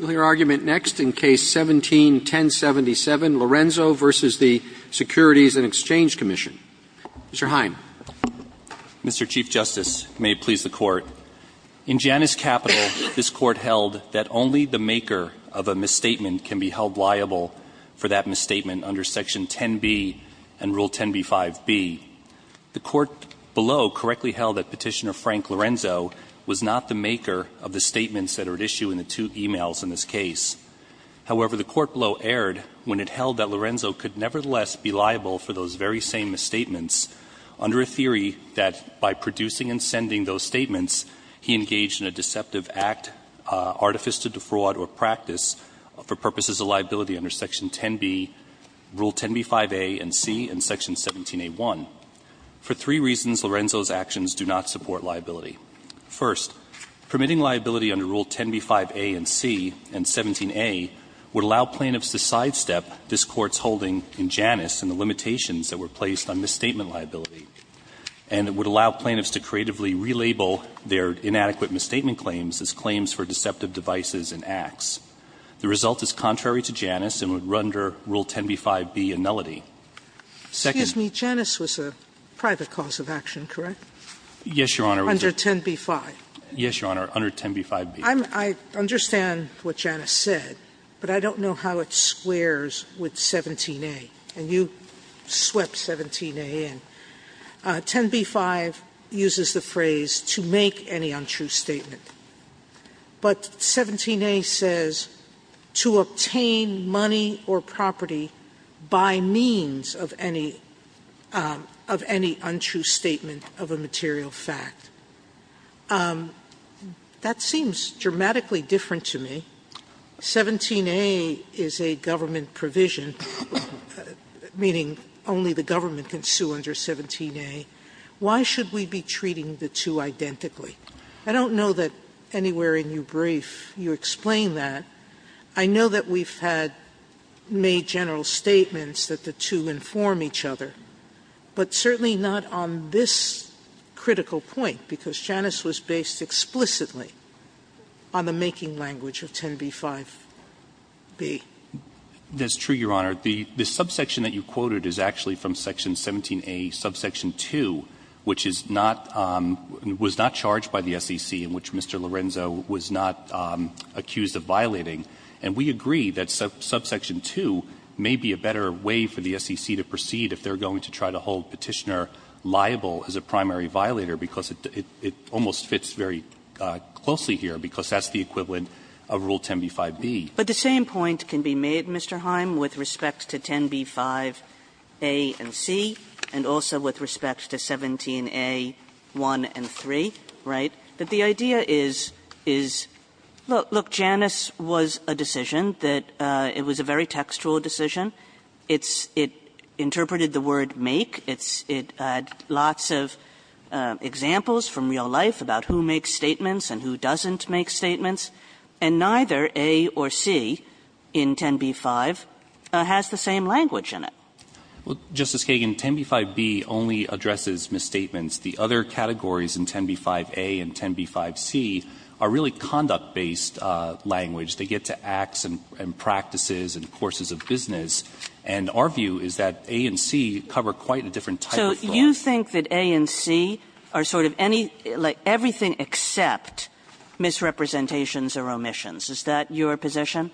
171077, Lorenzo v. the Securities and Exchange Commission. Mr. Heim. Mr. Chief Justice, may it please the Court, in Janus Capital, this Court held that only the maker of a misstatement can be held liable for that misstatement under Section 10b and Rule 10b-5b. The Court below correctly held that Petitioner Frank Lorenzo was not the maker of the statements that are at issue in the two e-mails in this case. However, the Court below erred when it held that Lorenzo could nevertheless be liable for those very same misstatements under a theory that by producing and sending those statements, he engaged in a deceptive act, artifice to defraud, or practice for purposes of liability under Section 10b, Rule 10b-5a and C, and Section 17a-1. For three reasons, Lorenzo's actions do not support liability. First, permitting liability under Rule 10b-5a and C and 17a would allow plaintiffs to sidestep this Court's holding in Janus and the limitations that were placed on misstatement liability, and it would allow plaintiffs to creatively relabel their inadequate misstatement claims as claims for deceptive devices and acts. The result is contrary to Janus and would render Rule 10b-5b a nullity. Sotomayor, Janus was a private cause of action, correct? Yes, Your Honor. Under 10b-5. Yes, Your Honor, under 10b-5b. I understand what Janus said, but I don't know how it squares with 17a, and you swept 17a in. 10b-5 uses the phrase, to make any untrue statement. But 17a says, to obtain money or property by means of any untrue statement of a material fact. That seems dramatically different to me. 17a is a government provision, meaning only the government can sue under 17a. Why should we be treating the two identically? I don't know that anywhere in your brief you explain that. I know that we've had made general statements that the two inform each other, but certainly not on this critical point, because Janus was based explicitly on the making language of 10b-5b. That's true, Your Honor. The subsection that you quoted is actually from Section 17a, subsection 2, which is not, was not charged by the SEC, in which Mr. Lorenzo was not accused of violating. And we agree that subsection 2 may be a better way for the SEC to proceed if they are going to try to hold Petitioner liable as a primary violator, because it almost fits very closely here, because that's the equivalent of Rule 10b-5b. But the same point can be made, Mr. Heim, with respect to 10b-5a and c, and also with respect to 17a-1 and 3, right, that the idea is, is, look, look, Janus was a decision that it was a very textual decision. It's, it interpreted the word make. It's, it had lots of examples from real life about who makes statements and who doesn't make statements, and neither a or c in 10b-5 has the same language in it. Well, Justice Kagan, 10b-5b only addresses misstatements. The other categories in 10b-5a and 10b-5c are really conduct-based language. They get to acts and practices and courses of business. And our view is that a and c cover quite a different type of law. So you think that a and c are sort of any, like, everything except misrepresentations or omissions. Is that your position?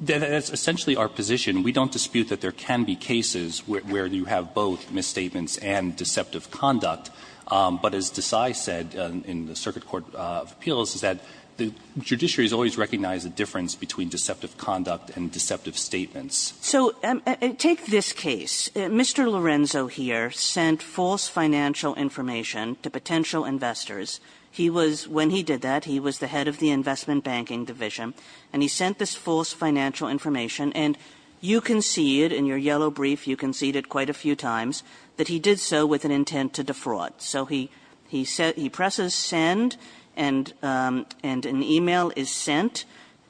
That's essentially our position. We don't dispute that there can be cases where you have both misstatements and deceptive conduct. But as Desai said in the Circuit Court of Appeals, is that the judiciaries always recognize the difference between deceptive conduct and deceptive statements. So take this case. Mr. Lorenzo here sent false financial information to potential investors. He was, when he did that, he was the head of the Investment Banking Division, and he sent this false financial information. And you conceded, in your yellow brief, you conceded quite a few times that he did so with an intent to defraud. So he presses send, and an e-mail is sent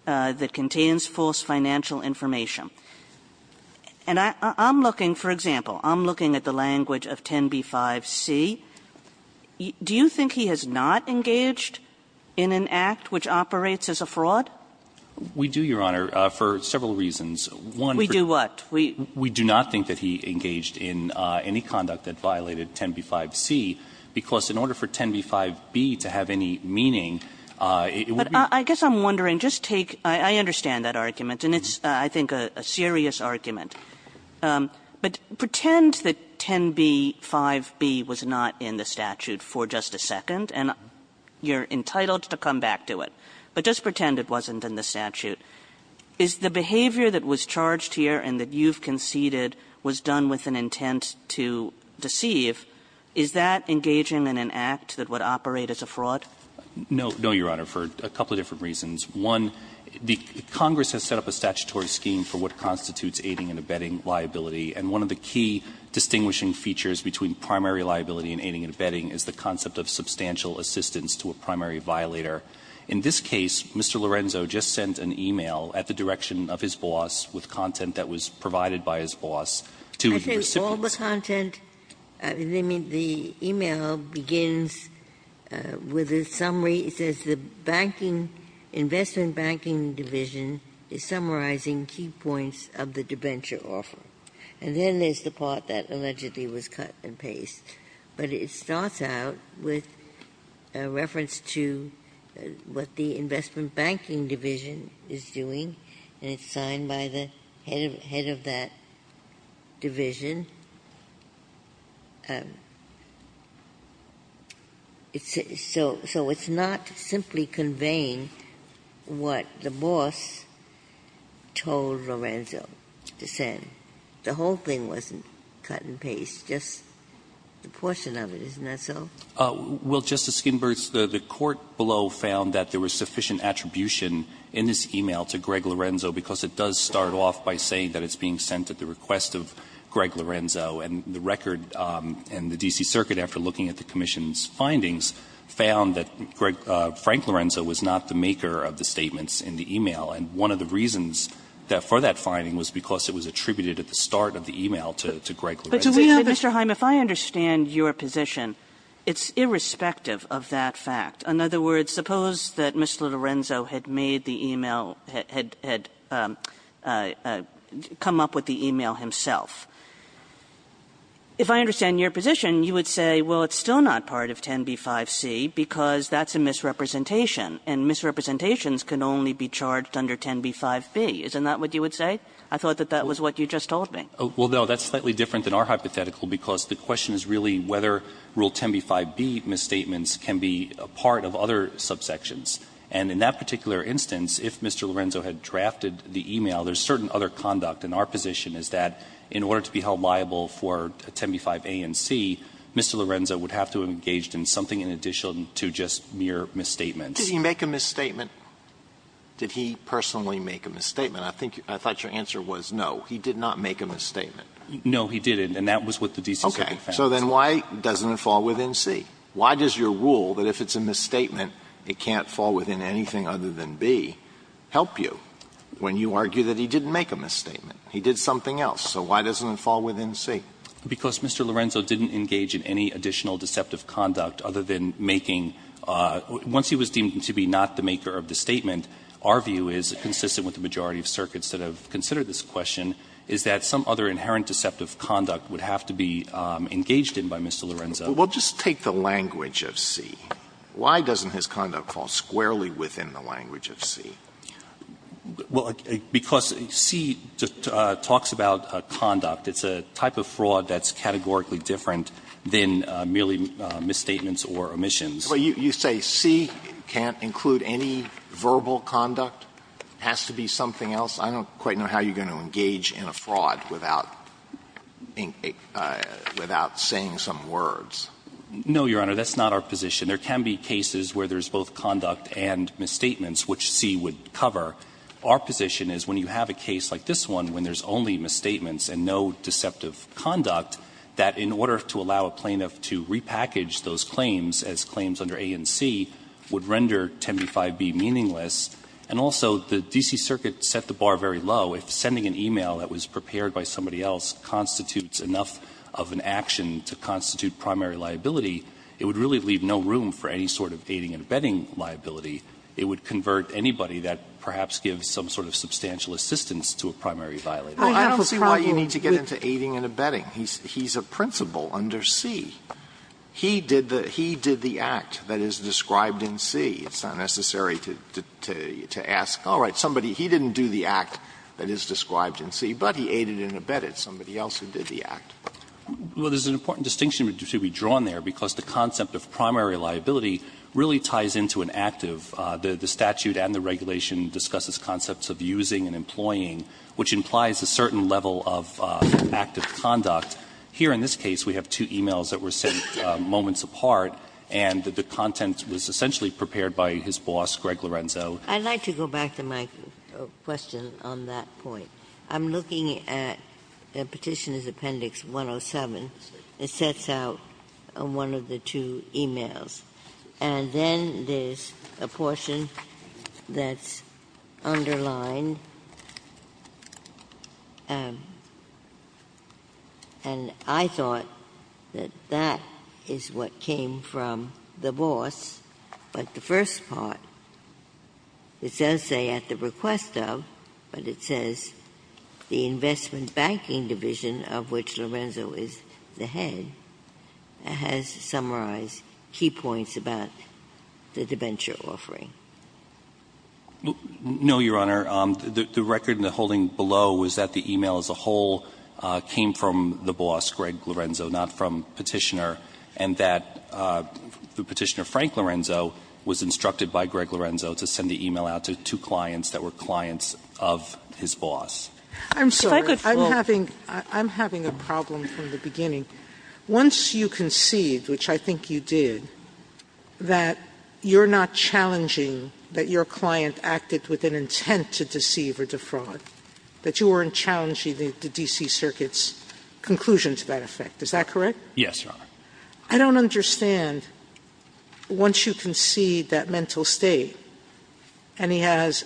that contains false financial information. And I'm looking, for example, I'm looking at the language of 10b-5c. Do you think he has not engaged in an act which operates as a fraud? We do, Your Honor, for several reasons. One, for example, we do not think that he engaged in any conduct that violated 10b-5c, because in order for 10b-5b to have any meaning, it would be But I guess I'm wondering, just take, I understand that argument, and it's, I think, a serious argument. But pretend that 10b-5b was not in the statute for just a second, and you're entitled to come back to it. But just pretend it wasn't in the statute. Is the behavior that was charged here and that you've conceded was done with an intent to deceive, is that engaging in an act that would operate as a fraud? No, Your Honor, for a couple of different reasons. One, Congress has set up a statutory scheme for what constitutes aiding and abetting liability. And one of the key distinguishing features between primary liability and aiding and abetting is the concept of substantial assistance to a primary violator. In this case, Mr. Lorenzo just sent an e-mail at the direction of his boss with content that was provided by his boss to the recipients. Ginsburg-Gilbert, I think all the content, I mean, the e-mail begins with a summary. It says the banking, investment banking division is summarizing key points of the debenture offer. And then there's the part that allegedly was cut and pasted. But it starts out with a reference to what the investment banking division is doing. And it's signed by the head of that division. So it's not simply conveying what the boss told Lorenzo to send. The whole thing wasn't cut and pasted, just a portion of it, isn't that so? Well, Justice Ginsburg, the court below found that there was sufficient attribution in this e-mail to Greg Lorenzo, because it does start off by saying that it's being sent at the request of Greg Lorenzo. And the record in the D.C. Circuit, after looking at the commission's findings, found that Frank Lorenzo was not the maker of the statements in the e-mail. And one of the reasons for that finding was because it was attributed at the start of the e-mail to Greg Lorenzo. But, Mr. Hyam, if I understand your position, it's irrespective of that fact. In other words, suppose that Mr. Lorenzo had made the e-mail, had come up with the e-mail himself. If I understand your position, you would say, well, it's still not part of 10B-5C because that's a misrepresentation. And misrepresentations can only be charged under 10B-5B. Isn't that what you would say? I thought that that was what you just told me. Well, no, that's slightly different than our hypothetical, because the question is really whether Rule 10B-5B misstatements can be a part of other subsections. And in that particular instance, if Mr. Lorenzo had drafted the e-mail, there's certain other conduct. And our position is that in order to be held liable for 10B-5A and 10B-5C, Mr. Lorenzo would have to have engaged in something in addition to just mere misstatements. Did he make a misstatement? Did he personally make a misstatement? I think you – I thought your answer was no. He did not make a misstatement. No, he didn't, and that was what the D.C. Circuit found. Okay. So then why doesn't it fall within C? Why does your rule that if it's a misstatement, it can't fall within anything other than B help you when you argue that he didn't make a misstatement? He did something else. So why doesn't it fall within C? Because Mr. Lorenzo didn't engage in any additional deceptive conduct other than making – once he was deemed to be not the maker of the statement, our view is, consistent with the majority of circuits that have considered this question, is that some other inherent deceptive conduct would have to be engaged in by Mr. Lorenzo. Well, just take the language of C. Why doesn't his conduct fall squarely within the language of C? Well, because C talks about conduct. It's a type of fraud that's categorically different than merely misstatements or omissions. You say C can't include any verbal conduct, has to be something else. I don't quite know how you're going to engage in a fraud without saying some words. No, Your Honor, that's not our position. There can be cases where there's both conduct and misstatements, which C would cover. Our position is when you have a case like this one, when there's only misstatements and no deceptive conduct, that in order to allow a plaintiff to repackage those claims as claims under A and C would render 10b-5b meaningless. And also, the D.C. Circuit set the bar very low. If sending an e-mail that was prepared by somebody else constitutes enough of an action to constitute primary liability, it would really leave no room for any sort of aiding and abetting liability. It would convert anybody that perhaps gives some sort of substantial assistance to a primary violator. I don't see why you need to get into aiding and abetting. He's a principal under C. He did the act that is described in C. It's not necessary to ask, all right, somebody, he didn't do the act that is described in C, but he aided and abetted somebody else who did the act. Well, there's an important distinction to be drawn there, because the concept of primary liability really ties into an act of the statute and the regulation discusses concepts of using and employing, which implies a certain level of active conduct. Here, in this case, we have two e-mails that were sent moments apart, and the content was essentially prepared by his boss, Greg Lorenzo. I'd like to go back to my question on that point. I'm looking at Petitioner's Appendix 107. It sets out one of the two e-mails. And then there's a portion that's underlined, and I thought that that is what came from the boss, but the first part, it does say, at the request of, but it says, the debenture offering. No, Your Honor. The record in the holding below was that the e-mail as a whole came from the boss, Greg Lorenzo, not from Petitioner, and that Petitioner Frank Lorenzo was instructed by Greg Lorenzo to send the e-mail out to two clients that were clients of his boss. I'm sorry, I'm having a problem from the beginning. Once you concede, which I think you did, that you're not challenging that your client acted with an intent to deceive or defraud, that you weren't challenging the D.C. Circuit's conclusion to that effect. Is that correct? Yes, Your Honor. I don't understand, once you concede that mental state, and he has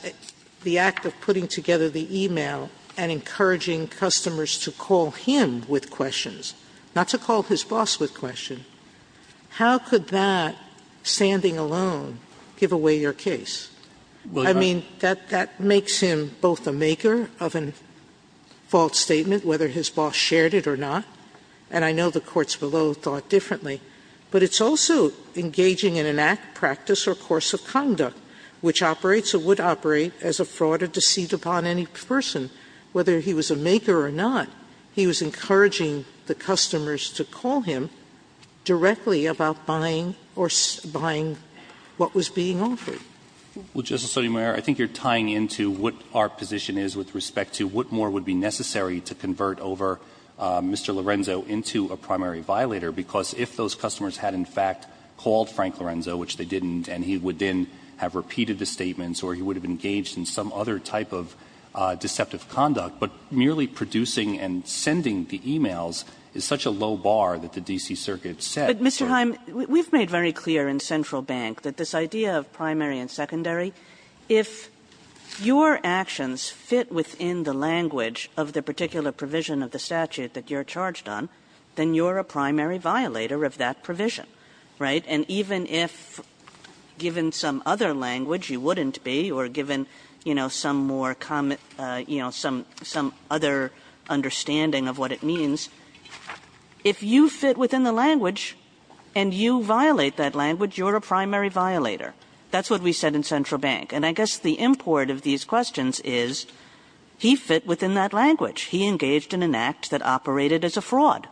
the act of putting together the e-mail and encouraging customers to call him with questions, not to call his boss with questions, how could that, standing alone, give away your case? I mean, that makes him both a maker of a false statement, whether his boss shared it or not, and I know the courts below thought differently, but it's also engaging in an act, practice, or course of conduct which operates or would operate as a fraud to deceive upon any person, whether he was a maker or not. He was encouraging the customers to call him directly about buying or buying what was being offered. Well, Justice Sotomayor, I think you're tying into what our position is with respect to what more would be necessary to convert over Mr. Lorenzo into a primary violator, because if those customers had in fact called Frank Lorenzo, which they didn't, and he would then have repeated the statements or he would have engaged in some other type of deceptive conduct, but merely producing and sending the e-mails is such a low bar that the D.C. Circuit set, so. Kagan, we've made very clear in Central Bank that this idea of primary and secondary, if your actions fit within the language of the particular provision of the statute that you're charged on, then you're a primary violator of that provision, right? And even if, given some other language, you wouldn't be, or given, you know, some more, you know, some other understanding of what it means, if you fit within the language and you violate that language, you're a primary violator. That's what we said in Central Bank. And I guess the import of these questions is he fit within that language. He engaged in an act that operated as a fraud.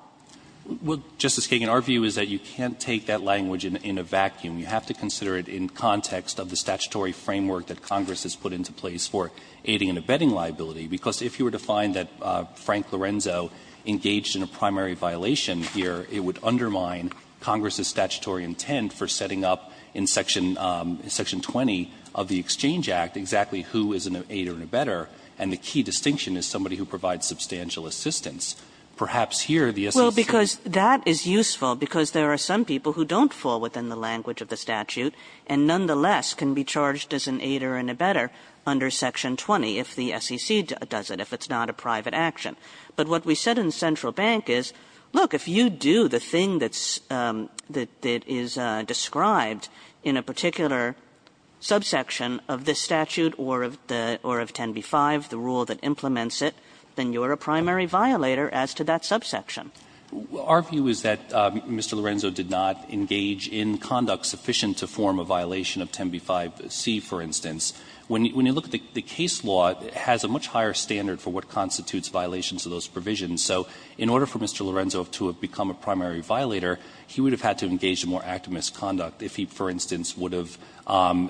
Well, Justice Kagan, our view is that you can't take that language in a vacuum. You have to consider it in context of the statutory framework that Congress has put into place for aiding and abetting liability, because if you were to find that Frank Lorenzo engaged in a primary violation here, it would undermine Congress' statutory intent for setting up in Section 20 of the Exchange Act exactly who is an aider and abetter, and the key distinction is somebody who provides substantial assistance. Perhaps here, the SEC… Well, because that is useful, because there are some people who don't fall within the language of the statute and nonetheless can be charged as an aider and abetter under Section 20 if the SEC does it, if it's not a private action. But what we said in Central Bank is, look, if you do the thing that's, that is described in a particular subsection of this statute or of the, or of 10b-5, the rule that you have to consider as to that subsection. Our view is that Mr. Lorenzo did not engage in conduct sufficient to form a violation of 10b-5c, for instance. When you look at the case law, it has a much higher standard for what constitutes violations of those provisions. So in order for Mr. Lorenzo to have become a primary violator, he would have had to engage in more active misconduct if he, for instance, would have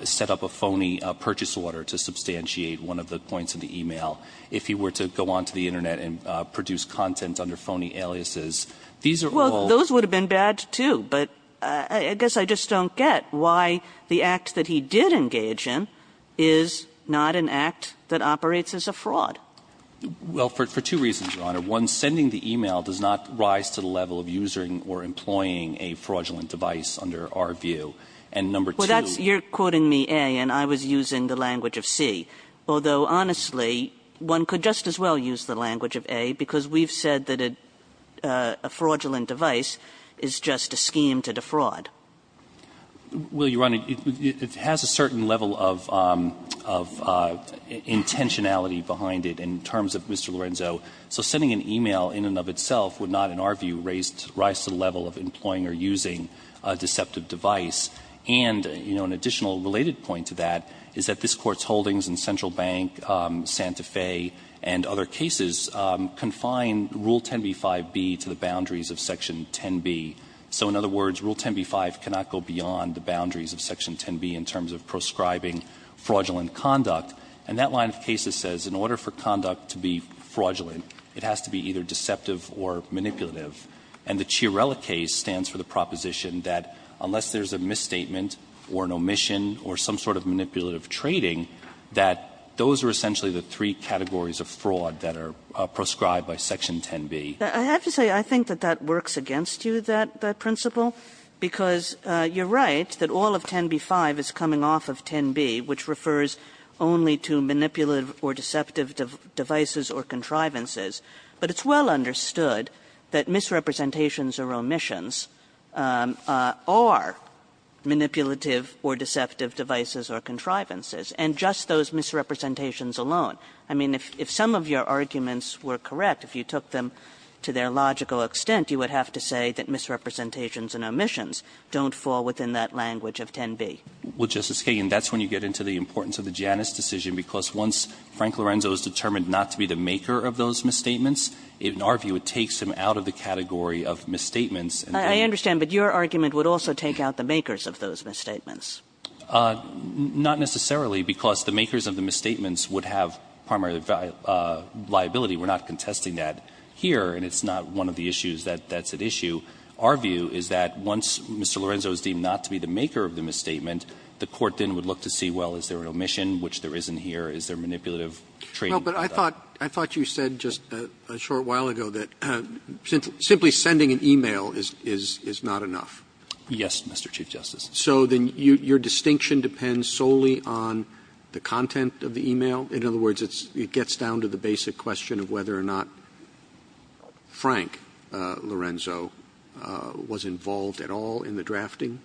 set up a phony purchase order to substantiate one of the points in the e-mail. If he were to go onto the Internet and produce content under phony aliases, these are all the same. Kagan. Well, those would have been bad, too, but I guess I just don't get why the act that he did engage in is not an act that operates as a fraud. Well, for two reasons, Your Honor. One, sending the e-mail does not rise to the level of using or employing a fraudulent device under our view. And number two. Well, that's, you're quoting me, A, and I was using the language of C. Although, honestly, one could just as well use the language of A, because we've said that a fraudulent device is just a scheme to defraud. Well, Your Honor, it has a certain level of intentionality behind it in terms of Mr. Lorenzo. So sending an e-mail in and of itself would not, in our view, rise to the level of employing or using a deceptive device. And, you know, an additional related point to that is that this Court's holdings in Central Bank, Santa Fe, and other cases confine Rule 10b-5b to the boundaries of Section 10b. So in other words, Rule 10b-5 cannot go beyond the boundaries of Section 10b in terms of proscribing fraudulent conduct. And that line of cases says in order for conduct to be fraudulent, it has to be either deceptive or manipulative. And the Chiarella case stands for the proposition that unless there's a misstatement or an omission or some sort of manipulative trading, that those are essentially the three categories of fraud that are proscribed by Section 10b. Kagan. Kagan. I have to say I think that that works against you, that principle, because you're right that all of 10b-5 is coming off of 10b, which refers only to manipulative or deceptive devices or contrivances. But it's well understood that misrepresentations or omissions are manipulative or deceptive devices or contrivances, and just those misrepresentations alone. I mean, if some of your arguments were correct, if you took them to their logical extent, you would have to say that misrepresentations and omissions don't fall within that language of 10b. Well, Justice Kagan, that's when you get into the importance of the Janus decision, because once Frank Lorenzo is determined not to be the maker of those misstatements, in our view, it takes him out of the category of misstatements. Kagan. I understand, but your argument would also take out the makers of those misstatements. Not necessarily, because the makers of the misstatements would have primary liability. We're not contesting that here, and it's not one of the issues that's at issue. Our view is that once Mr. Lorenzo is deemed not to be the maker of the misstatement, the court then would look to see, well, is there an omission, which there isn't here, is there manipulative training? Roberts. I thought you said just a short while ago that simply sending an e-mail is not enough. Yes, Mr. Chief Justice. So then your distinction depends solely on the content of the e-mail? In other words, it gets down to the basic question of whether or not Frank Lorenzo was involved at all in the drafting?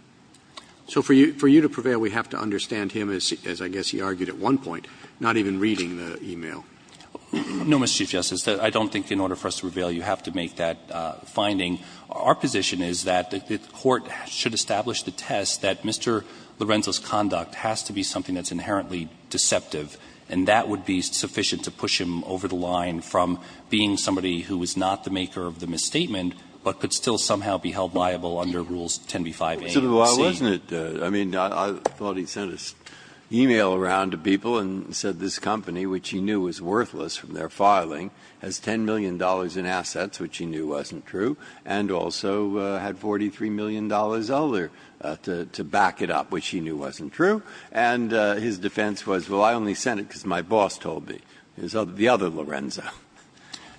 So for you to prevail, we have to understand him, as I guess he argued at one point, not even reading the e-mail. No, Mr. Chief Justice. I don't think in order for us to prevail, you have to make that finding. Our position is that the court should establish the test that Mr. Lorenzo's conduct has to be something that's inherently deceptive, and that would be sufficient to push him over the line from being somebody who is not the maker of the misstatement, but could still somehow be held liable under Rules 10b-5a. So why wasn't it? I mean, I thought he sent an e-mail around to people and said this company, which he knew was worthless from their filing, has $10 million in assets, which he knew wasn't true, and also had $43 million to back it up, which he knew wasn't true. And his defense was, well, I only sent it because my boss told me, the other Lorenzo.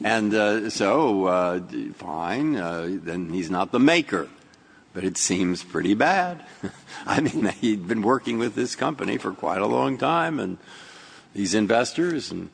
And so, fine, then he's not the maker, but it seems pretty bad. I mean, he'd been working with this company for quite a long time, and he's investors, and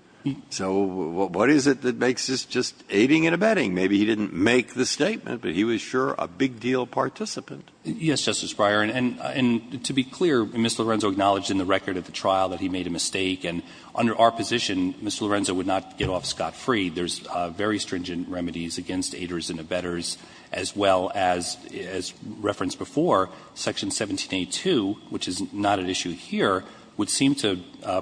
so what is it that makes this just aiding and abetting? Maybe he didn't make the statement, but he was sure a big deal participant. Yes, Justice Breyer. And to be clear, Mr. Lorenzo acknowledged in the record of the trial that he made a mistake, and under our position, Mr. Lorenzo would not get off scot-free. There's very stringent remedies against aiders and abettors, as well as, as referenced before, Section 1782, which is not at issue here, would seem to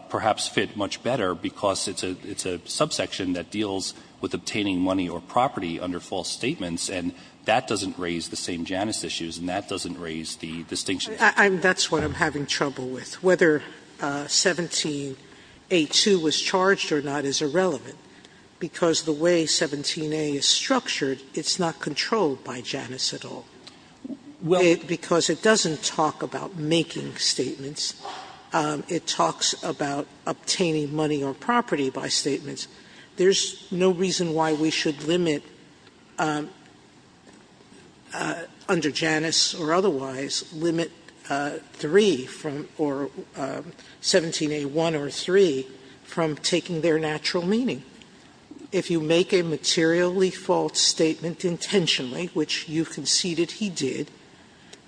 perhaps fit much better, because it's a subsection that deals with obtaining money or property under false statements, and that doesn't raise the same Janus issues, and that doesn't raise the distinction. Sotomayor That's what I'm having trouble with. Whether 1782 was charged or not is irrelevant, because the way 17A is structured, it's not controlled by Janus at all. Because it doesn't talk about making statements. It talks about obtaining money or property by statements. There's no reason why we should limit, under Janus or otherwise, limit the way we would limit 3 from or 17A1 or 3 from taking their natural meaning. If you make a materially false statement intentionally, which you conceded he did,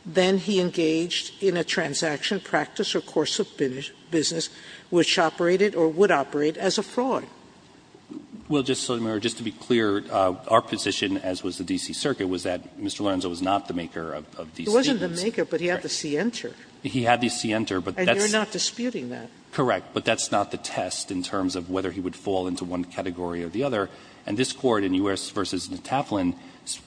then he engaged in a transaction, practice, or course of business which operated or would operate as a fraud. Well, Justice Sotomayor, just to be clear, our position, as was the D.C. Circuit, was that Mr. Lorenzo was not the maker of these statements. Sotomayor He wasn't the maker, but he had the scienter. And you're not disputing that. Correct. But that's not the test in terms of whether he would fall into one category or the other. And this Court in U.S. v. Nataplin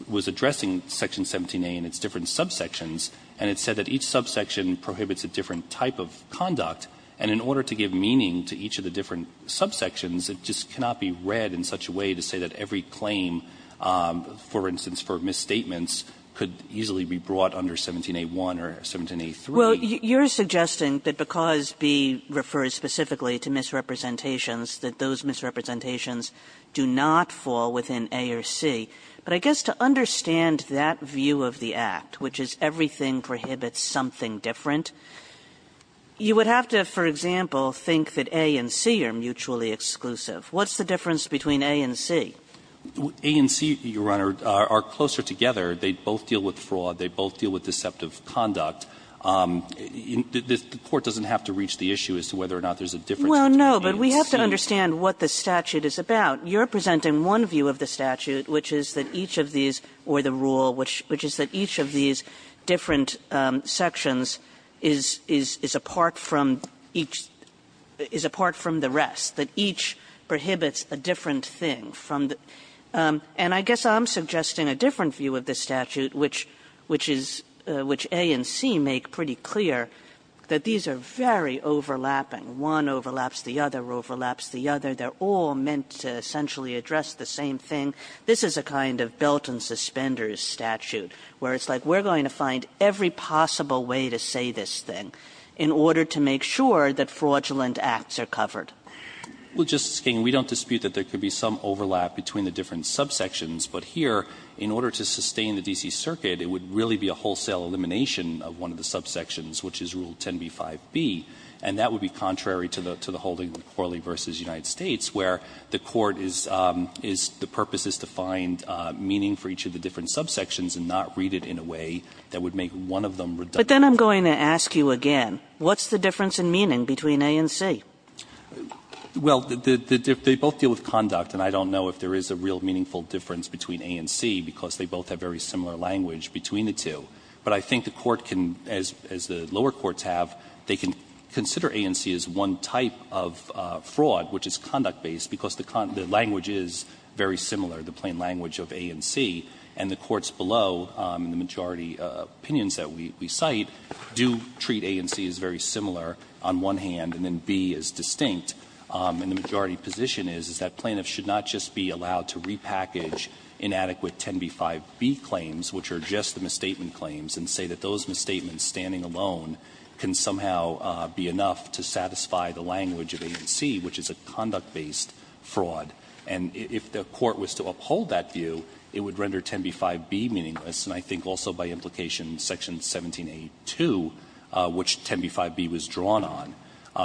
was addressing section 17A and its different subsections, and it said that each subsection prohibits a different type of conduct. And in order to give meaning to each of the different subsections, it just cannot be read in such a way to say that every claim, for instance, for misstatements could easily be brought under 17A1 or 17A3. Well, you're suggesting that because B refers specifically to misrepresentations, that those misrepresentations do not fall within A or C. But I guess to understand that view of the Act, which is everything prohibits something different, you would have to, for example, think that A and C are mutually exclusive. What's the difference between A and C? A and C, Your Honor, are closer together. They both deal with fraud. They both deal with deceptive conduct. The Court doesn't have to reach the issue as to whether or not there's a difference between A and C. Kagan. Kagan. Kagan. But we have to understand what the statute is about. You're presenting one view of the statute, which is that each of these or the rule, which is that each of these different sections is apart from each of the rest, that each prohibits a different thing from the other. And I guess I'm suggesting a different view of the statute, which is — which A and C make pretty clear that these are very overlapping. One overlaps the other, overlaps the other. They're all meant to essentially address the same thing. This is a kind of belt-and-suspenders statute, where it's like we're going to find every possible way to say this thing in order to make sure that fraudulent acts are covered. Well, Justice Kagan, we don't dispute that there could be some overlap between the different subsections. But here, in order to sustain the D.C. Circuit, it would really be a wholesale elimination of one of the subsections, which is Rule 10b-5b. And that would be contrary to the holding of Corley v. United States, where the Court is — the purpose is to find meaning for each of the different subsections and not read it in a way that would make one of them redundant. But then I'm going to ask you again, what's the difference in meaning between A and C? Well, they both deal with conduct, and I don't know if there is a real meaningful difference between A and C, because they both have very similar language between the two. But I think the Court can, as the lower courts have, they can consider A and C as one type of fraud, which is conduct-based, because the language is very similar, the plain language of A and C. And the courts below, in the majority opinions that we cite, do treat A and C as very similar, as distinct, and the majority position is, is that plaintiffs should not just be allowed to repackage inadequate 10b-5b claims, which are just the misstatement claims, and say that those misstatements standing alone can somehow be enough to satisfy the language of A and C, which is a conduct-based fraud. And if the Court was to uphold that view, it would render 10b-5b meaningless, and I think also by implication in Section 17a-2, which 10b-5b was drawn on.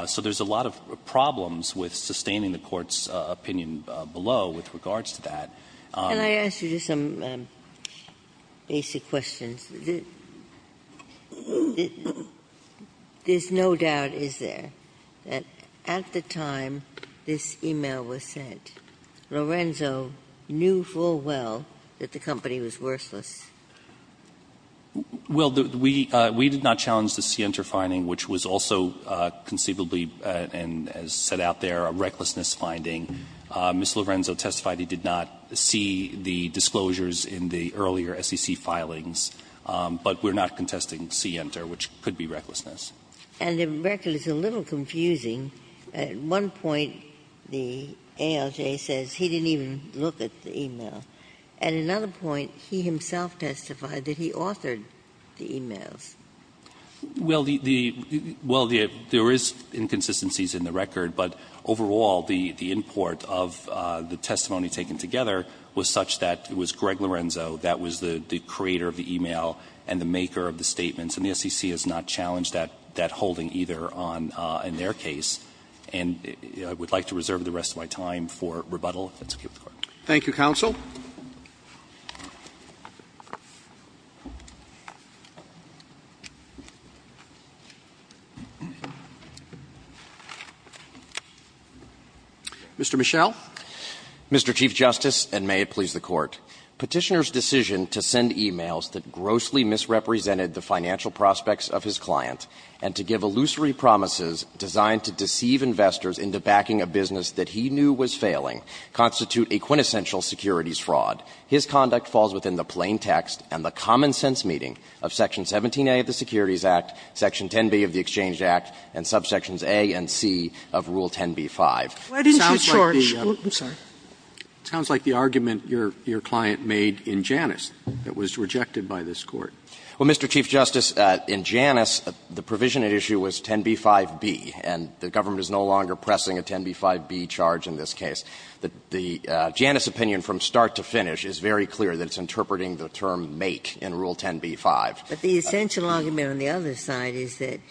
So there's a lot of problems with sustaining the Court's opinion below with regards to that. Ginsburg. Can I ask you just some basic questions? There's no doubt, is there, that at the time this e-mail was sent, Lorenzo knew full well that the company was worthless? Well, we did not challenge the Center finding, which was also conceivably, and as set out there, a recklessness finding. Ms. Lorenzo testified he did not see the disclosures in the earlier SEC filings, but we're not contesting Center, which could be recklessness. And the record is a little confusing. At one point, the ALJ says he didn't even look at the e-mail. At another point, he himself testified that he authored the e-mails. Well, the – well, there is inconsistencies in the record, but overall, the import of the testimony taken together was such that it was Greg Lorenzo that was the creator of the e-mail and the maker of the statements, and the SEC has not challenged that holding either on their case. And I would like to reserve the rest of my time for rebuttal if that's okay with the Court. Thank you, counsel. Mr. Michel. Mr. Chief Justice, and may it please the Court. Petitioner's decision to send e-mails that grossly misrepresented the financial prospects of his client and to give illusory promises designed to deceive investors into backing a business that he knew was failing constitute a quintessential securities fraud. His conduct falls within the plain text and the common sense meeting of Section 17a of the Securities Act, Section 10b of the Exchange Act, and subsections a and c of Rule 10b-5. It sounds like the argument your client made in Janus that was rejected by this Court. Well, Mr. Chief Justice, in Janus, the provision at issue was 10b-5b, and the government is no longer pressing a 10b-5b charge in this case. The Janus opinion from start to finish is very clear that it's interpreting the term make in Rule 10b-5. But the essential argument on the other side is that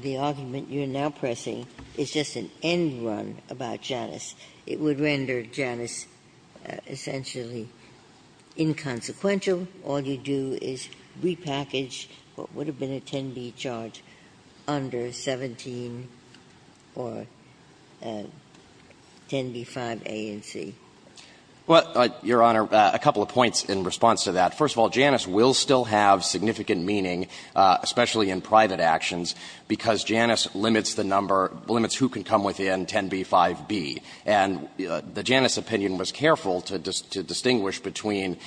the argument you're now pressing is just an end run about Janus. It would render Janus essentially inconsequential. All you do is repackage what would have been a 10b charge under 17 or 10b-5a and c. Well, Your Honor, a couple of points in response to that. First of all, Janus will still have significant meaning, especially in private actions, because Janus limits the number, limits who can come within 10b-5b. And the Janus opinion was careful to distinguish between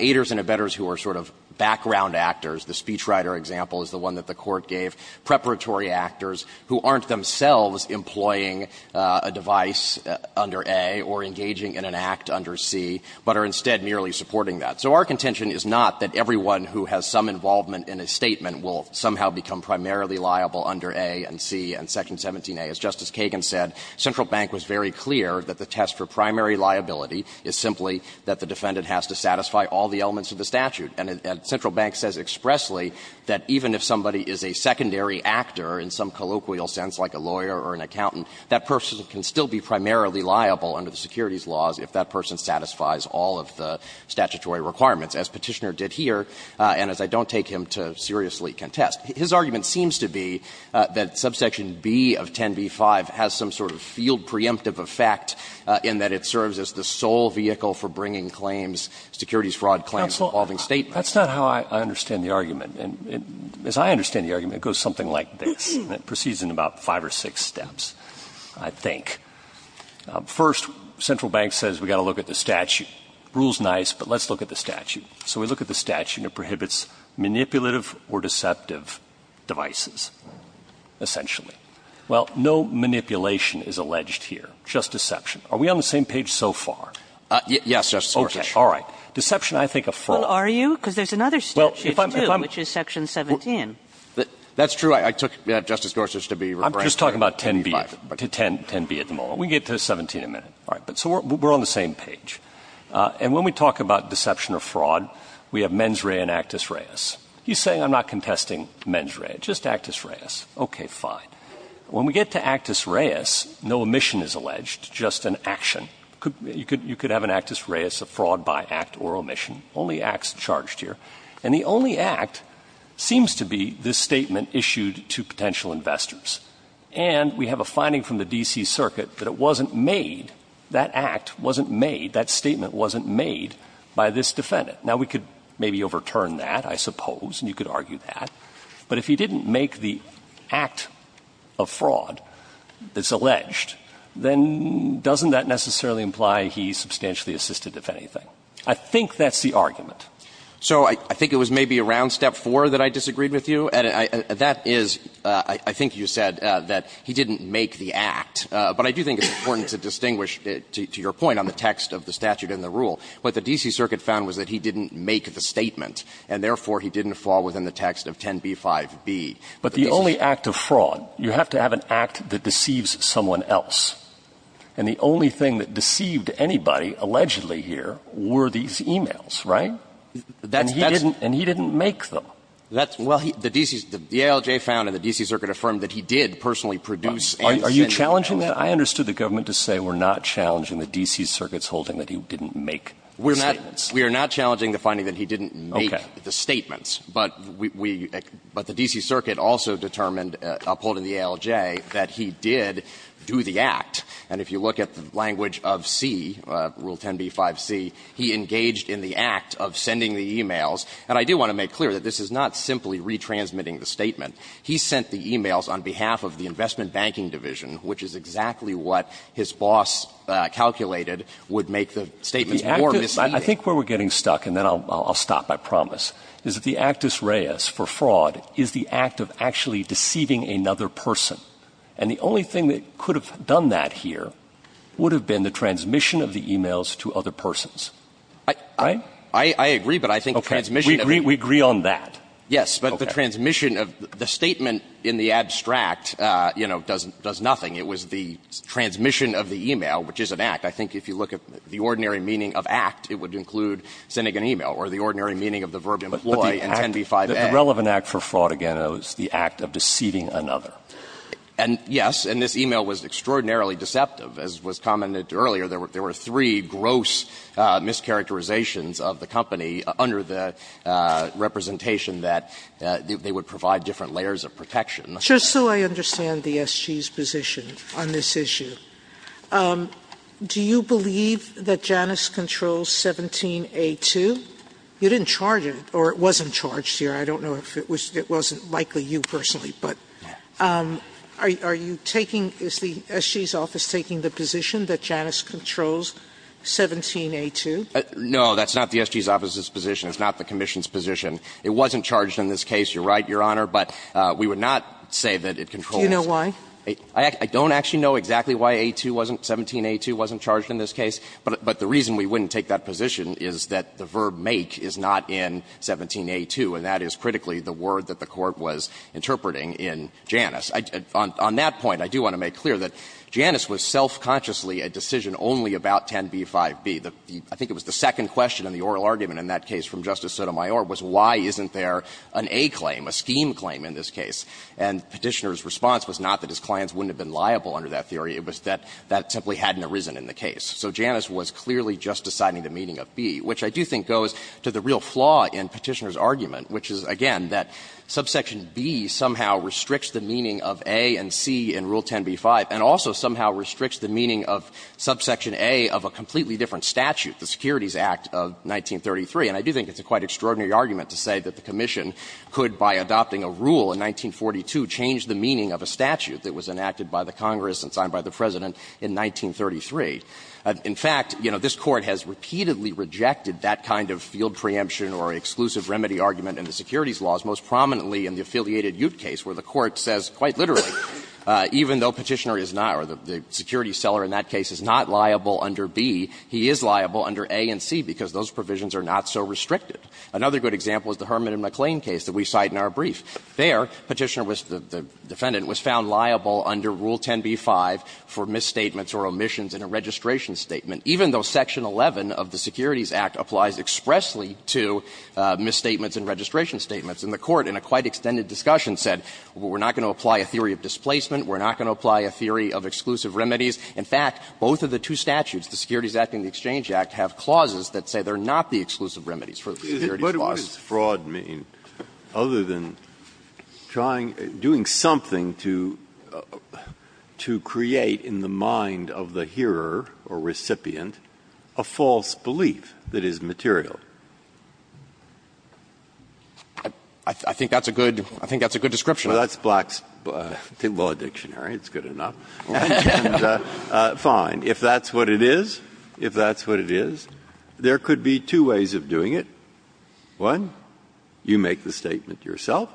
aiders and abettors who are sort of background actors. The speechwriter example is the one that the Court gave, preparatory actors who aren't themselves employing a device under a or engaging in an act under c, but are instead merely supporting that. So our contention is not that everyone who has some involvement in a statement will somehow become primarily liable under a and c and section 17a. As Justice Kagan said, Central Bank was very clear that the test for primary liability is simply that the defendant has to satisfy all the elements of the statute. And Central Bank says expressly that even if somebody is a secondary actor in some colloquial sense, like a lawyer or an accountant, that person can still be primarily liable under the securities laws if that person satisfies all of the statutory requirements, as Petitioner did here, and as I don't take him to seriously contest. His argument seems to be that subsection B of 10b-5 has some sort of field preemptive effect in that it serves as the sole vehicle for bringing claims, securities fraud claims, involving State parties. Roberts, that's not how I understand the argument. As I understand the argument, it goes something like this, and it proceeds in about five or six steps, I think. First, Central Bank says we've got to look at the statute. Rule's nice, but let's look at the statute. So we look at the statute, and it prohibits manipulative or deceptive devices, essentially. Well, no manipulation is alleged here, just deception. Are we on the same page so far? Gannon, Yes, Justice Gorsuch. Roberts, Okay, all right. Deception, I think, a fraud. Kagan, Well, are you? Because there's another statute, too, which is section 17. Gannon, That's true. I took Justice Gorsuch to be regretful. Roberts, I'm just talking about 10b, 10b at the moment. We can get to 17 in a minute. All right. So we're on the same page. And when we talk about deception or fraud, we have Menzray and Actus Reis. He's saying I'm not contesting Menzray, just Actus Reis. Okay, fine. When we get to Actus Reis, no omission is alleged, just an action. You could have an Actus Reis, a fraud by act or omission. Only acts charged here. And the only act seems to be this statement issued to potential investors. And we have a finding from the D.C. Circuit that it wasn't made, that act wasn't made. That statement wasn't made by this defendant. Now, we could maybe overturn that, I suppose, and you could argue that. But if he didn't make the act of fraud that's alleged, then doesn't that necessarily imply he's substantially assisted, if anything? I think that's the argument. So I think it was maybe around step 4 that I disagreed with you, and that is, I think you said that he didn't make the act. But I do think it's important to distinguish, to your point on the text of the statute and the rule, what the D.C. Circuit found was that he didn't make the statement, and therefore he didn't fall within the text of 10b-5b. But the only act of fraud, you have to have an act that deceives someone else. And the only thing that deceived anybody, allegedly here, were these e-mails, right? And he didn't make them. Well, the D.C. Circuit found and the D.C. Circuit affirmed that he did personally produce anything. Are you challenging that? I understood the government to say we're not challenging the D.C. Circuit's holding that he didn't make statements. We are not challenging the finding that he didn't make the statements. But we – but the D.C. Circuit also determined, upholding the ALJ, that he did do the act. And if you look at the language of C, rule 10b-5c, he engaged in the act of sending the e-mails. And I do want to make clear that this is not simply retransmitting the statement. He sent the e-mails on behalf of the Investment Banking Division, which is exactly what his boss calculated would make the statements more misleading. I think where we're getting stuck, and then I'll stop, I promise, is that the actus reis for fraud is the act of actually deceiving another person. And the only thing that could have done that here would have been the transmission of the e-mails to other persons, right? The statement in the abstract, you know, does nothing. It was the transmission of the e-mail, which is an act. I think if you look at the ordinary meaning of act, it would include sending an e-mail or the ordinary meaning of the verb employ in 10b-5a. But the relevant act for fraud, again, is the act of deceiving another. And, yes, and this e-mail was extraordinarily deceptive. As was commented earlier, there were three gross mischaracterizations of the company under the representation that they would provide different layers of protection. Sotomayor, just so I understand the SG's position on this issue, do you believe that Janus controls 17a-2? You didn't charge it, or it wasn't charged here. I don't know if it was — it wasn't likely you personally, but are you taking — is the SG's office taking the position that Janus controls 17a-2? No, that's not the SG's office's position. It's not the commission's position. It wasn't charged in this case. You're right, Your Honor. But we would not say that it controls 17a-2. Do you know why? I don't actually know exactly why a-2 wasn't — 17a-2 wasn't charged in this case. But the reason we wouldn't take that position is that the verb make is not in 17a-2, and that is critically the word that the Court was interpreting in Janus. On that point, I do want to make clear that Janus was self-consciously a decision only about 10b-5b. The — I think it was the second question in the oral argument in that case from Justice Sotomayor was why isn't there an A claim, a scheme claim in this case. And Petitioner's response was not that his clients wouldn't have been liable under that theory. It was that that simply hadn't arisen in the case. So Janus was clearly just deciding the meaning of B, which I do think goes to the real flaw in Petitioner's argument, which is, again, that subsection B somehow restricts the meaning of A and C in Rule 10b-5, and also somehow restricts the meaning of subsection A of a completely different statute, the Securities Act of 1933. And I do think it's a quite extraordinary argument to say that the Commission could, by adopting a rule in 1942, change the meaning of a statute that was enacted by the Congress and signed by the President in 1933. In fact, you know, this Court has repeatedly rejected that kind of field preemption or exclusive remedy argument in the securities laws, most prominently in the affiliated Ute case, where the Court says quite literally, even though Petitioner is not, or the securities seller in that case is not liable under B, he is liable under A and C, because those provisions are not so restricted. Another good example is the Herman and McLean case that we cite in our brief. There, Petitioner was the defendant, was found liable under Rule 10b-5 for misstatements or omissions in a registration statement, even though Section 11 of the Securities Act applies expressly to misstatements in registration statements. And the Court, in a quite extended discussion, said, well, we're not going to apply a theory of displacement, we're not going to apply a theory of exclusive remedies. In fact, both of the two statutes, the Securities Act and the Exchange Act, have clauses that say they're not the exclusive remedies for the securities laws. Breyer, what does fraud mean, other than trying to do something to create in the mind of the hearer or recipient a false belief that is material? I think that's a good description. Breyer, that's Black's law dictionary, it's good enough. And fine, if that's what it is, if that's what it is, there could be two ways of doing it. One, you make the statement yourself.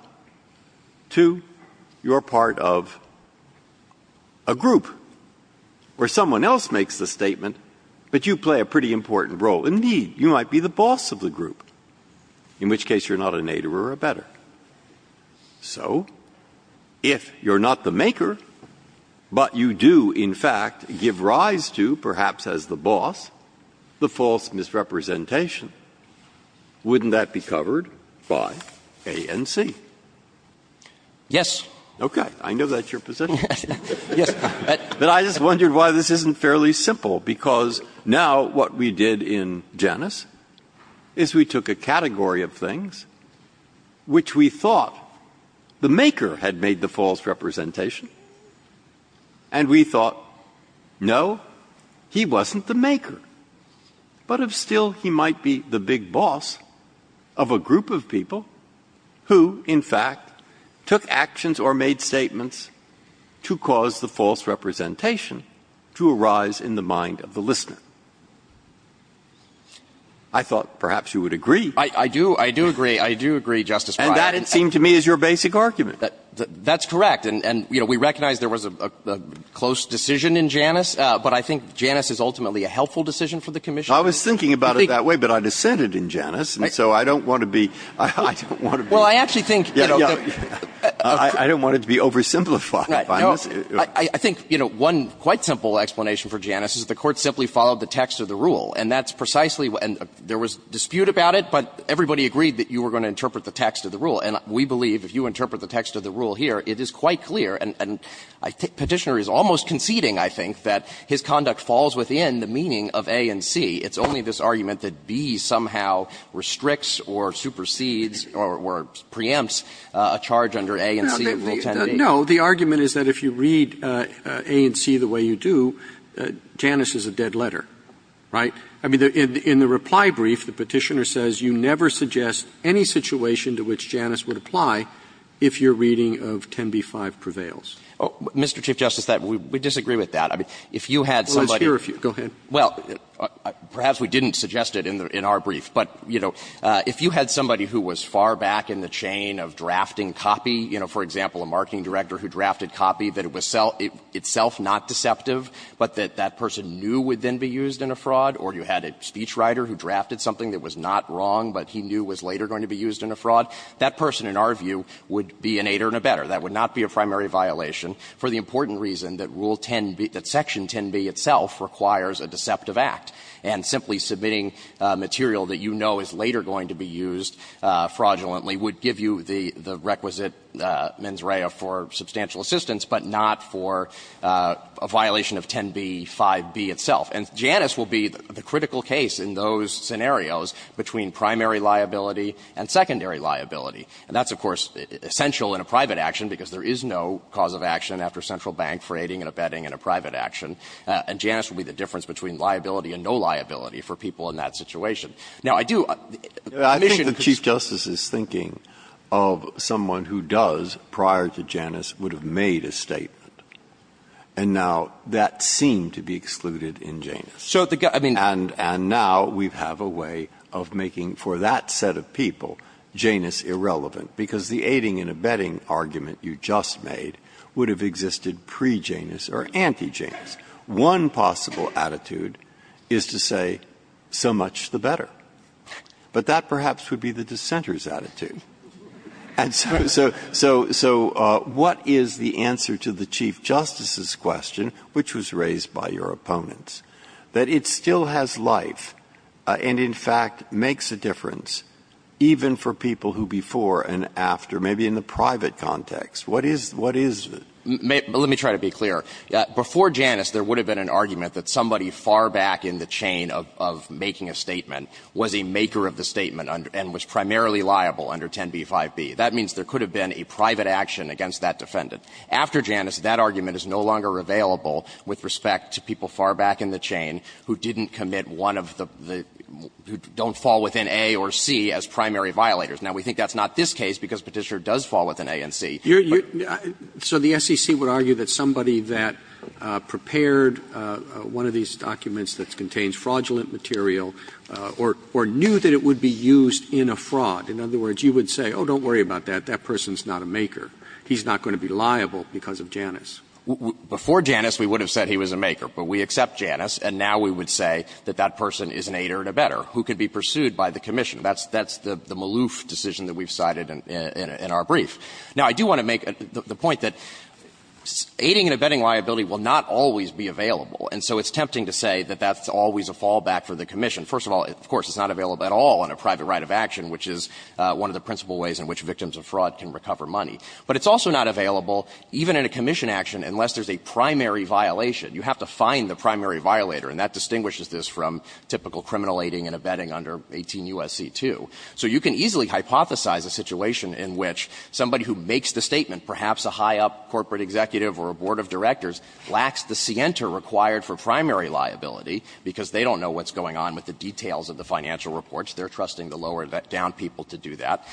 Two, you're part of a group where someone else makes the statement, but you play a pretty important role. Indeed, you might be the boss of the group, in which case you're not a nadir or a better. So if you're not the maker, but you do, in fact, give rise to, perhaps as the boss, the false misrepresentation, wouldn't that be covered by A and C? Yes. Okay. I know that's your position. Yes. But I just wondered why this isn't fairly simple, because now what we did in Janus is we took a category of things which we thought the maker had made the false representation, and we thought, no, he wasn't the maker. But still, he might be the big boss of a group of people who, in fact, took actions or made statements to cause the false representation to arise in the mind of the I thought perhaps you would agree. I do. I do agree. I do agree, Justice Breyer. And that, it seemed to me, is your basic argument. That's correct. And we recognize there was a close decision in Janus, but I think Janus is ultimately a helpful decision for the commission. I was thinking about it that way, but I dissented in Janus, and so I don't want to be I don't want to be Well, I actually think I don't want it to be oversimplified. I think one quite simple explanation for Janus is the Court simply followed the text of the rule, and that's precisely, and there was dispute about it, but everybody agreed that you were going to interpret the text of the rule. And we believe, if you interpret the text of the rule here, it is quite clear, and Petitioner is almost conceding, I think, that his conduct falls within the meaning of A and C. It's only this argument that B somehow restricts or supersedes or preempts a charge under A and C of Rule 10b. No. The argument is that if you read A and C the way you do, Janus is a dead letter. Right? I mean, in the reply brief, the Petitioner says you never suggest any situation to which Janus would apply if your reading of 10b-5 prevails. Mr. Chief Justice, we disagree with that. If you had somebody Well, it's here. Go ahead. Well, perhaps we didn't suggest it in our brief, but, you know, if you had somebody who was far back in the chain of drafting copy, you know, for example, a marketing director who drafted copy, that it was itself not deceptive, but that that person knew would then be used in a fraud, or you had a speechwriter who drafted something that was not wrong, but he knew was later going to be used in a fraud, that person, in our view, would be an aider and abetter. That would not be a primary violation for the important reason that Rule 10b – that Section 10b itself requires a deceptive act, and simply submitting material that you know is later going to be used fraudulently would give you the requisite mens rea for liability itself, and Janus will be the critical case in those scenarios between primary liability and secondary liability. And that's, of course, essential in a private action, because there is no cause of action after central bank for aiding and abetting in a private action, and Janus would be the difference between liability and no liability for people in that situation. Now, I do – I think the Chief Justice is thinking of someone who does prior to Janus would have made a statement, and now that seemed to be excluded in Janus. And now we have a way of making, for that set of people, Janus irrelevant, because the aiding and abetting argument you just made would have existed pre-Janus or anti-Janus. One possible attitude is to say, so much the better. But that perhaps would be the dissenter's attitude. And so – so what is the answer to the Chief Justice's question, which was raised by your opponents, that it still has life and, in fact, makes a difference even for people who before and after, maybe in the private context, what is – what is the – Let me try to be clear. Before Janus, there would have been an argument that somebody far back in the chain of making a statement was a maker of the statement and was primarily liable under 10b-5b. That means there could have been a private action against that defendant. After Janus, that argument is no longer available with respect to people far back in the chain who didn't commit one of the – who don't fall within A or C as primary violators. Now, we think that's not this case, because Petitioner does fall within A and C. Robertson, you're – so the SEC would argue that somebody that prepared one of these documents that contains fraudulent material or knew that it would be used in a fraud – in other words, you would say, oh, don't worry about that, that person is not a maker, he's not going to be liable because of Janus. Before Janus, we would have said he was a maker, but we accept Janus, and now we would say that that person is an aider and abetter who could be pursued by the commission. That's – that's the Maloof decision that we've cited in our brief. Now, I do want to make the point that aiding and abetting liability will not always be available, and so it's tempting to say that that's always a fallback for the commission. First of all, of course, it's not available at all in a private right of action, which is one of the principal ways in which victims of fraud can recover money. But it's also not available even in a commission action unless there's a primary violation. You have to find the primary violator, and that distinguishes this from typical criminal aiding and abetting under 18 U.S.C. 2. So you can easily hypothesize a situation in which somebody who makes the statement, perhaps a high-up corporate executive or a board of directors, lacks the scienter required for primary liability because they don't know what's going on with the details of the financial reports. They're trusting the lower-down people to do that.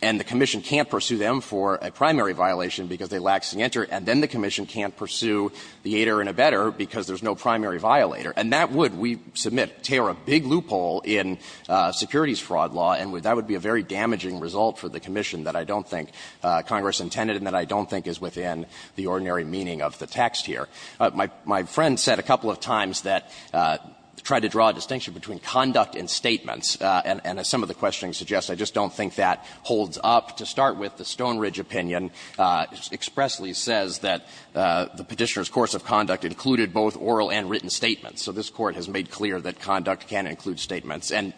And the commission can't pursue them for a primary violation because they lack scienter, and then the commission can't pursue the aider and abetter because there's no primary violator. And that would, we submit, tear a big loophole in securities fraud law, and that would be a very damaging result for the commission that I don't think Congress intended and that I don't think is within the ordinary meaning of the text here. My friend said a couple of times that, to try to draw a distinction between conduct and statements, and as some of the questioning suggests, I just don't think that holds up. To start with, the Stoneridge opinion expressly says that the Petitioner's course of conduct included both oral and written statements. So this Court has made clear that conduct can include statements. And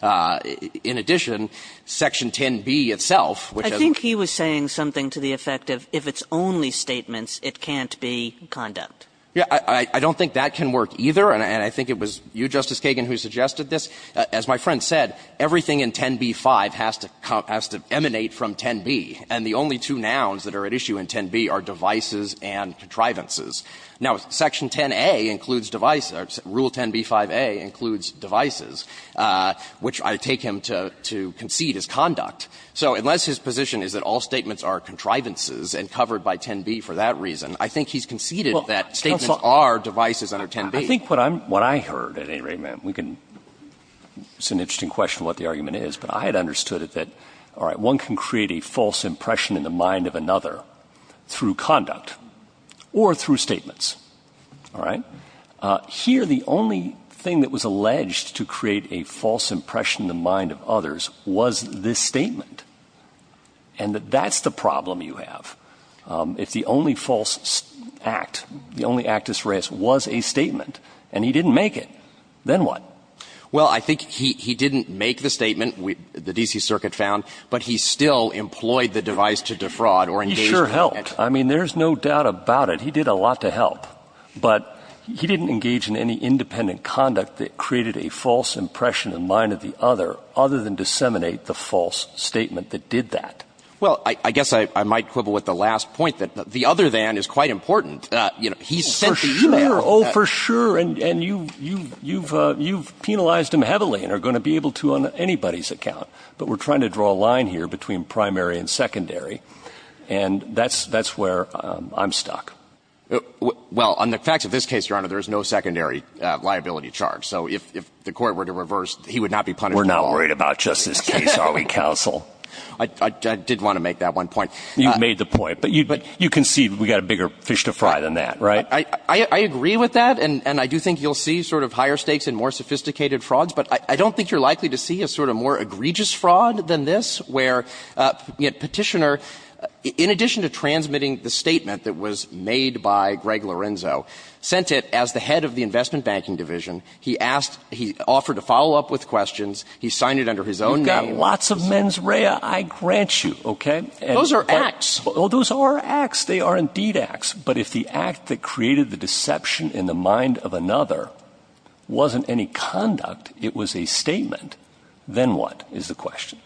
in addition, Section 10b itself, which has been used in the case of the Petitioner case, is adding to the effect of, if it's only statements, it can't be conduct. Yeah. I don't think that can work either, and I think it was you, Justice Kagan, who suggested this. As my friend said, everything in 10b-5 has to emanate from 10b, and the only two nouns that are at issue in 10b are devices and contrivances. Now, Section 10a includes device or Rule 10b-5a includes devices, which I take him to concede is conduct. So unless his position is that all statements are contrivances and covered by 10b for that reason, I think he's conceded that statements are devices under 10b. I think what I'm – what I heard at any rate, ma'am, we can – it's an interesting question what the argument is, but I had understood it that, all right, one can create a false impression in the mind of another through conduct or through statements. All right? Here, the only thing that was alleged to create a false impression in the mind of others was this statement, and that that's the problem you have. If the only false act, the only actus reus, was a statement and he didn't make it, then what? Well, I think he didn't make the statement, the D.C. Circuit found, but he still employed the device to defraud or engage in it. He sure helped. I mean, there's no doubt about it. He did a lot to help, but he didn't engage in any independent conduct that created a false impression in the mind of the other, other than disseminate the false statement that did that. Well, I guess I might quibble with the last point, that the other than is quite important. You know, he sent the e-mail. Oh, for sure. And you've penalized him heavily and are going to be able to on anybody's account. But we're trying to draw a line here between primary and secondary, and that's where I'm stuck. Well, on the facts of this case, Your Honor, there is no secondary liability charge. So if the Court were to reverse, he would not be punished at all. We're not worried about Justice's case, are we, counsel? I did want to make that one point. You've made the point. But you can see we've got a bigger fish to fry than that, right? I agree with that, and I do think you'll see sort of higher stakes and more sophisticated frauds, but I don't think you're likely to see a sort of more egregious fraud than this, where, you know, Petitioner, in addition to transmitting the statement that was made by Greg Lorenzo, sent it as the head of the Investment Banking Division. He asked – he offered to follow up with questions. He signed it under his own name. You've got lots of mens rea, I grant you, okay? Those are acts. Well, those are acts. They are indeed acts. But if the act that created the deception in the mind of another wasn't any conduct, it was a statement, then what is the question?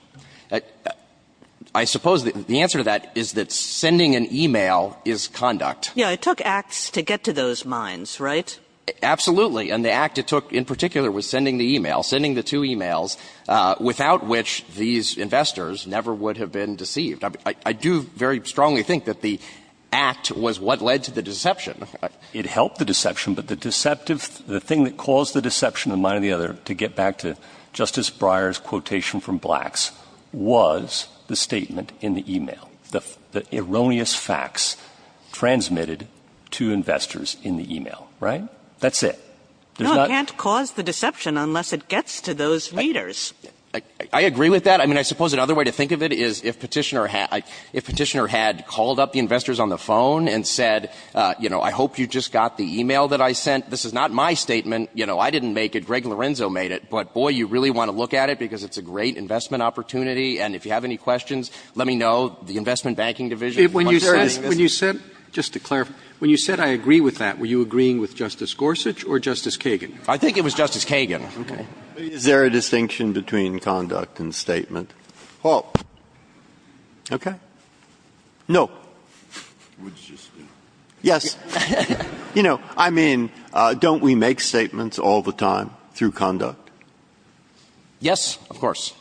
I suppose the answer to that is that sending an e-mail is conduct. Yeah, it took acts to get to those minds, right? Absolutely. And the act it took in particular was sending the e-mail, sending the two e-mails, without which these investors never would have been deceived. I do very strongly think that the act was what led to the deception. It helped the deception, but the deceptive – the thing that caused the deception in the mind of the other, to get back to Justice Breyer's quotation from Blacks, was the statement in the e-mail, the erroneous facts transmitted to investors in the e-mail, right? That's it. There's not – No, it can't cause the deception unless it gets to those readers. I agree with that. I mean, I suppose another way to think of it is if Petitioner had called up the investors on the phone and said, you know, I hope you just got the e-mail that I sent. This is not my statement. You know, I didn't make it. Greg Lorenzo made it. But, boy, you really want to look at it because it's a great investment opportunity. And if you have any questions, let me know. The Investment Banking Division, the bunch of – When you said – when you said – just to clarify. When you said, I agree with that, were you agreeing with Justice Gorsuch or Justice Kagan? I think it was Justice Kagan. Okay. Is there a distinction between conduct and statement? Paul. Okay. No. Yes. You know, I mean, don't we make statements all the time through conduct? Yes, of course.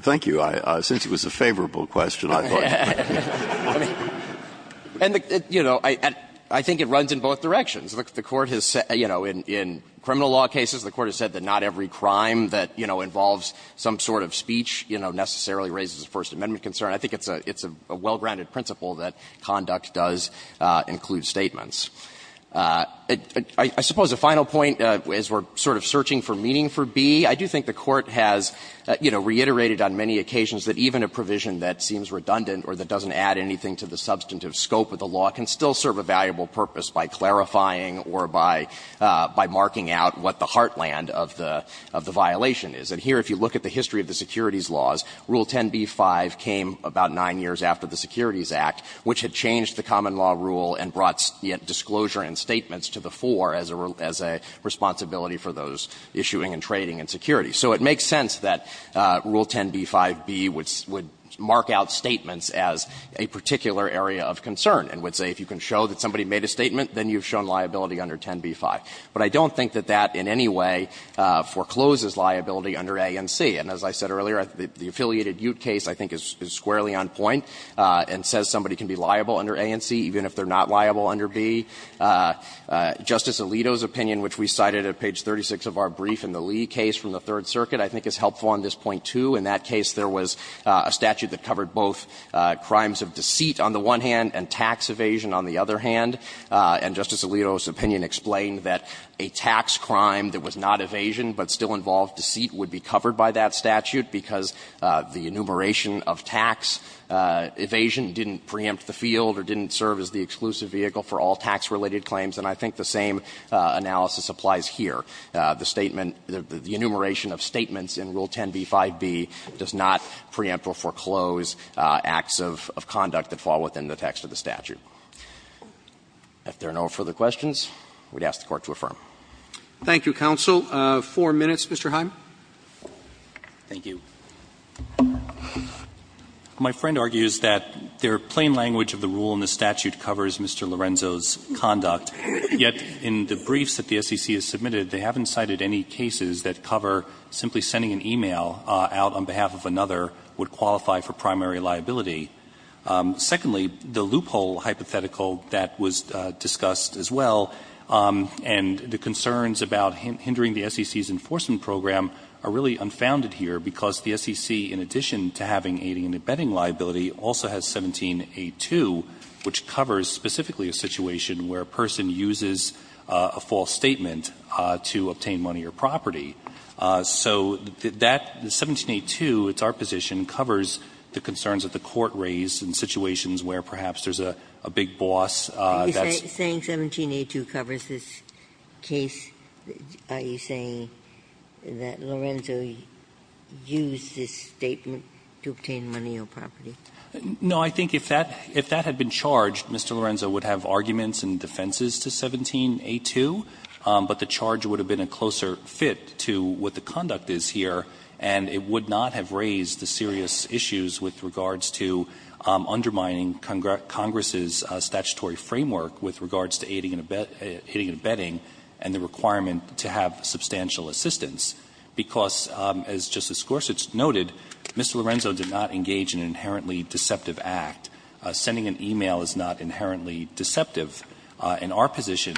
Thank you. Since it was a favorable question, I thought – And, you know, I think it runs in both directions. The Court has – you know, in criminal law cases, the Court has said that not every crime that, you know, involves some sort of speech, you know, necessarily raises a First Amendment concern. I think it's a well-grounded principle that conduct does include statements. I suppose a final point, as we're sort of searching for meaning for B, I do think the Court has, you know, reiterated on many occasions that even a provision that seems redundant or that doesn't add anything to the substantive scope of the law can still serve a valuable purpose by clarifying or by marking out what the heartland of the violation is. And here, if you look at the history of the securities laws, Rule 10b-5 came about 9 years after the Securities Act, which had changed the common law rule and brought disclosure and statements to the fore as a responsibility for those issuing and trading in securities. So it makes sense that Rule 10b-5b would mark out statements as a particular area of concern and would say if you can show that somebody made a statement, then you've shown liability under 10b-5. But I don't think that that in any way forecloses liability under A and C. And as I said earlier, the affiliated Ute case I think is squarely on point and says somebody can be liable under A and C even if they're not liable under B. Justice Alito's opinion, which we cited at page 36 of our brief in the Lee case from the Third Circuit, I think is helpful on this point, too. In that case, there was a statute that covered both crimes of deceit on the one hand and tax evasion on the other hand. And Justice Alito's opinion explained that a tax crime that was not evasion but still involved deceit would be covered by that statute because the enumeration of tax evasion didn't preempt the field or didn't serve as the exclusive vehicle for all tax-related claims. And I think the same analysis applies here. The statement, the enumeration of statements in Rule 10b-5b does not preempt or foreclose acts of conduct that fall within the text of the statute. If there are no further questions, we'd ask the Court to affirm. Roberts. Thank you, counsel. Four minutes, Mr. Hyman. Thank you. My friend argues that their plain language of the rule in the statute covers Mr. Lorenzo's point that we haven't cited any cases that cover simply sending an e-mail out on behalf of another would qualify for primary liability. Secondly, the loophole hypothetical that was discussed as well, and the concerns about hindering the SEC's enforcement program, are really unfounded here because the SEC, in addition to having aiding and abetting liability, also has 17a2, which covers specifically a situation where a person uses a false statement to obtain money or property. So that 17a2, it's our position, covers the concerns that the Court raised in situations where perhaps there's a big boss that's ---- Are you saying 17a2 covers this case? Are you saying that Lorenzo used this statement to obtain money or property? No. I think if that had been charged, Mr. Lorenzo would have arguments and defenses to 17a2, but the charge would have been a closer fit to what the conduct is here, and it would not have raised the serious issues with regards to undermining Congress's statutory framework with regards to aiding and abetting and the requirement to have substantial assistance, because, as Justice Gorsuch noted, Mr. Lorenzo did not engage in an inherently deceptive act. Sending an e-mail is not inherently deceptive, and our position,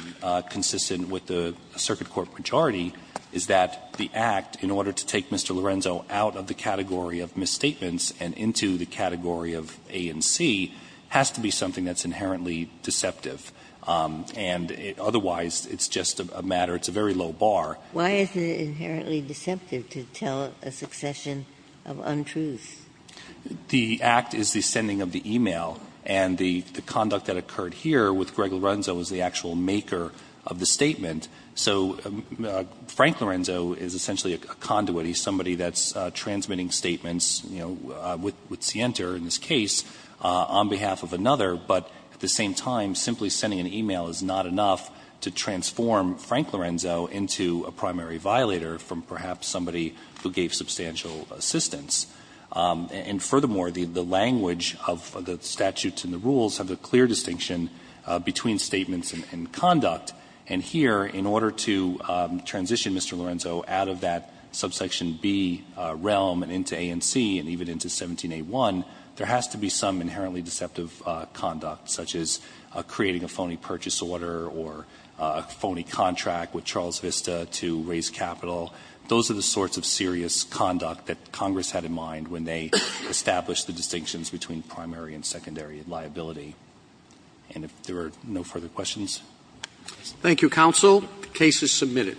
consistent with the circuit court majority, is that the act, in order to take Mr. Lorenzo out of the category of misstatements and into the category of A and C, has to be something that's inherently deceptive, and otherwise, it's just a matter, it's a very low bar. Why is it inherently deceptive to tell a succession of untruths? The act is the sending of the e-mail, and the conduct that occurred here with Greg Lorenzo is the actual maker of the statement. So Frank Lorenzo is essentially a conduit. He's somebody that's transmitting statements, you know, with Sienta in this case, on behalf of another, but at the same time, simply sending an e-mail is not enough to transform Frank Lorenzo into a primary violator from perhaps somebody who gave substantial assistance. And furthermore, the language of the statutes and the rules have a clear distinction between statements and conduct. And here, in order to transition Mr. Lorenzo out of that subsection B realm and into A and C and even into 17a1, there has to be some inherently deceptive conduct, such as creating a phony purchase order or a phony contract with Charles Vista to raise capital. Those are the sorts of serious conduct that Congress had in mind when they established the distinctions between primary and secondary liability. And if there are no further questions. Roberts. Thank you, counsel. The case is submitted.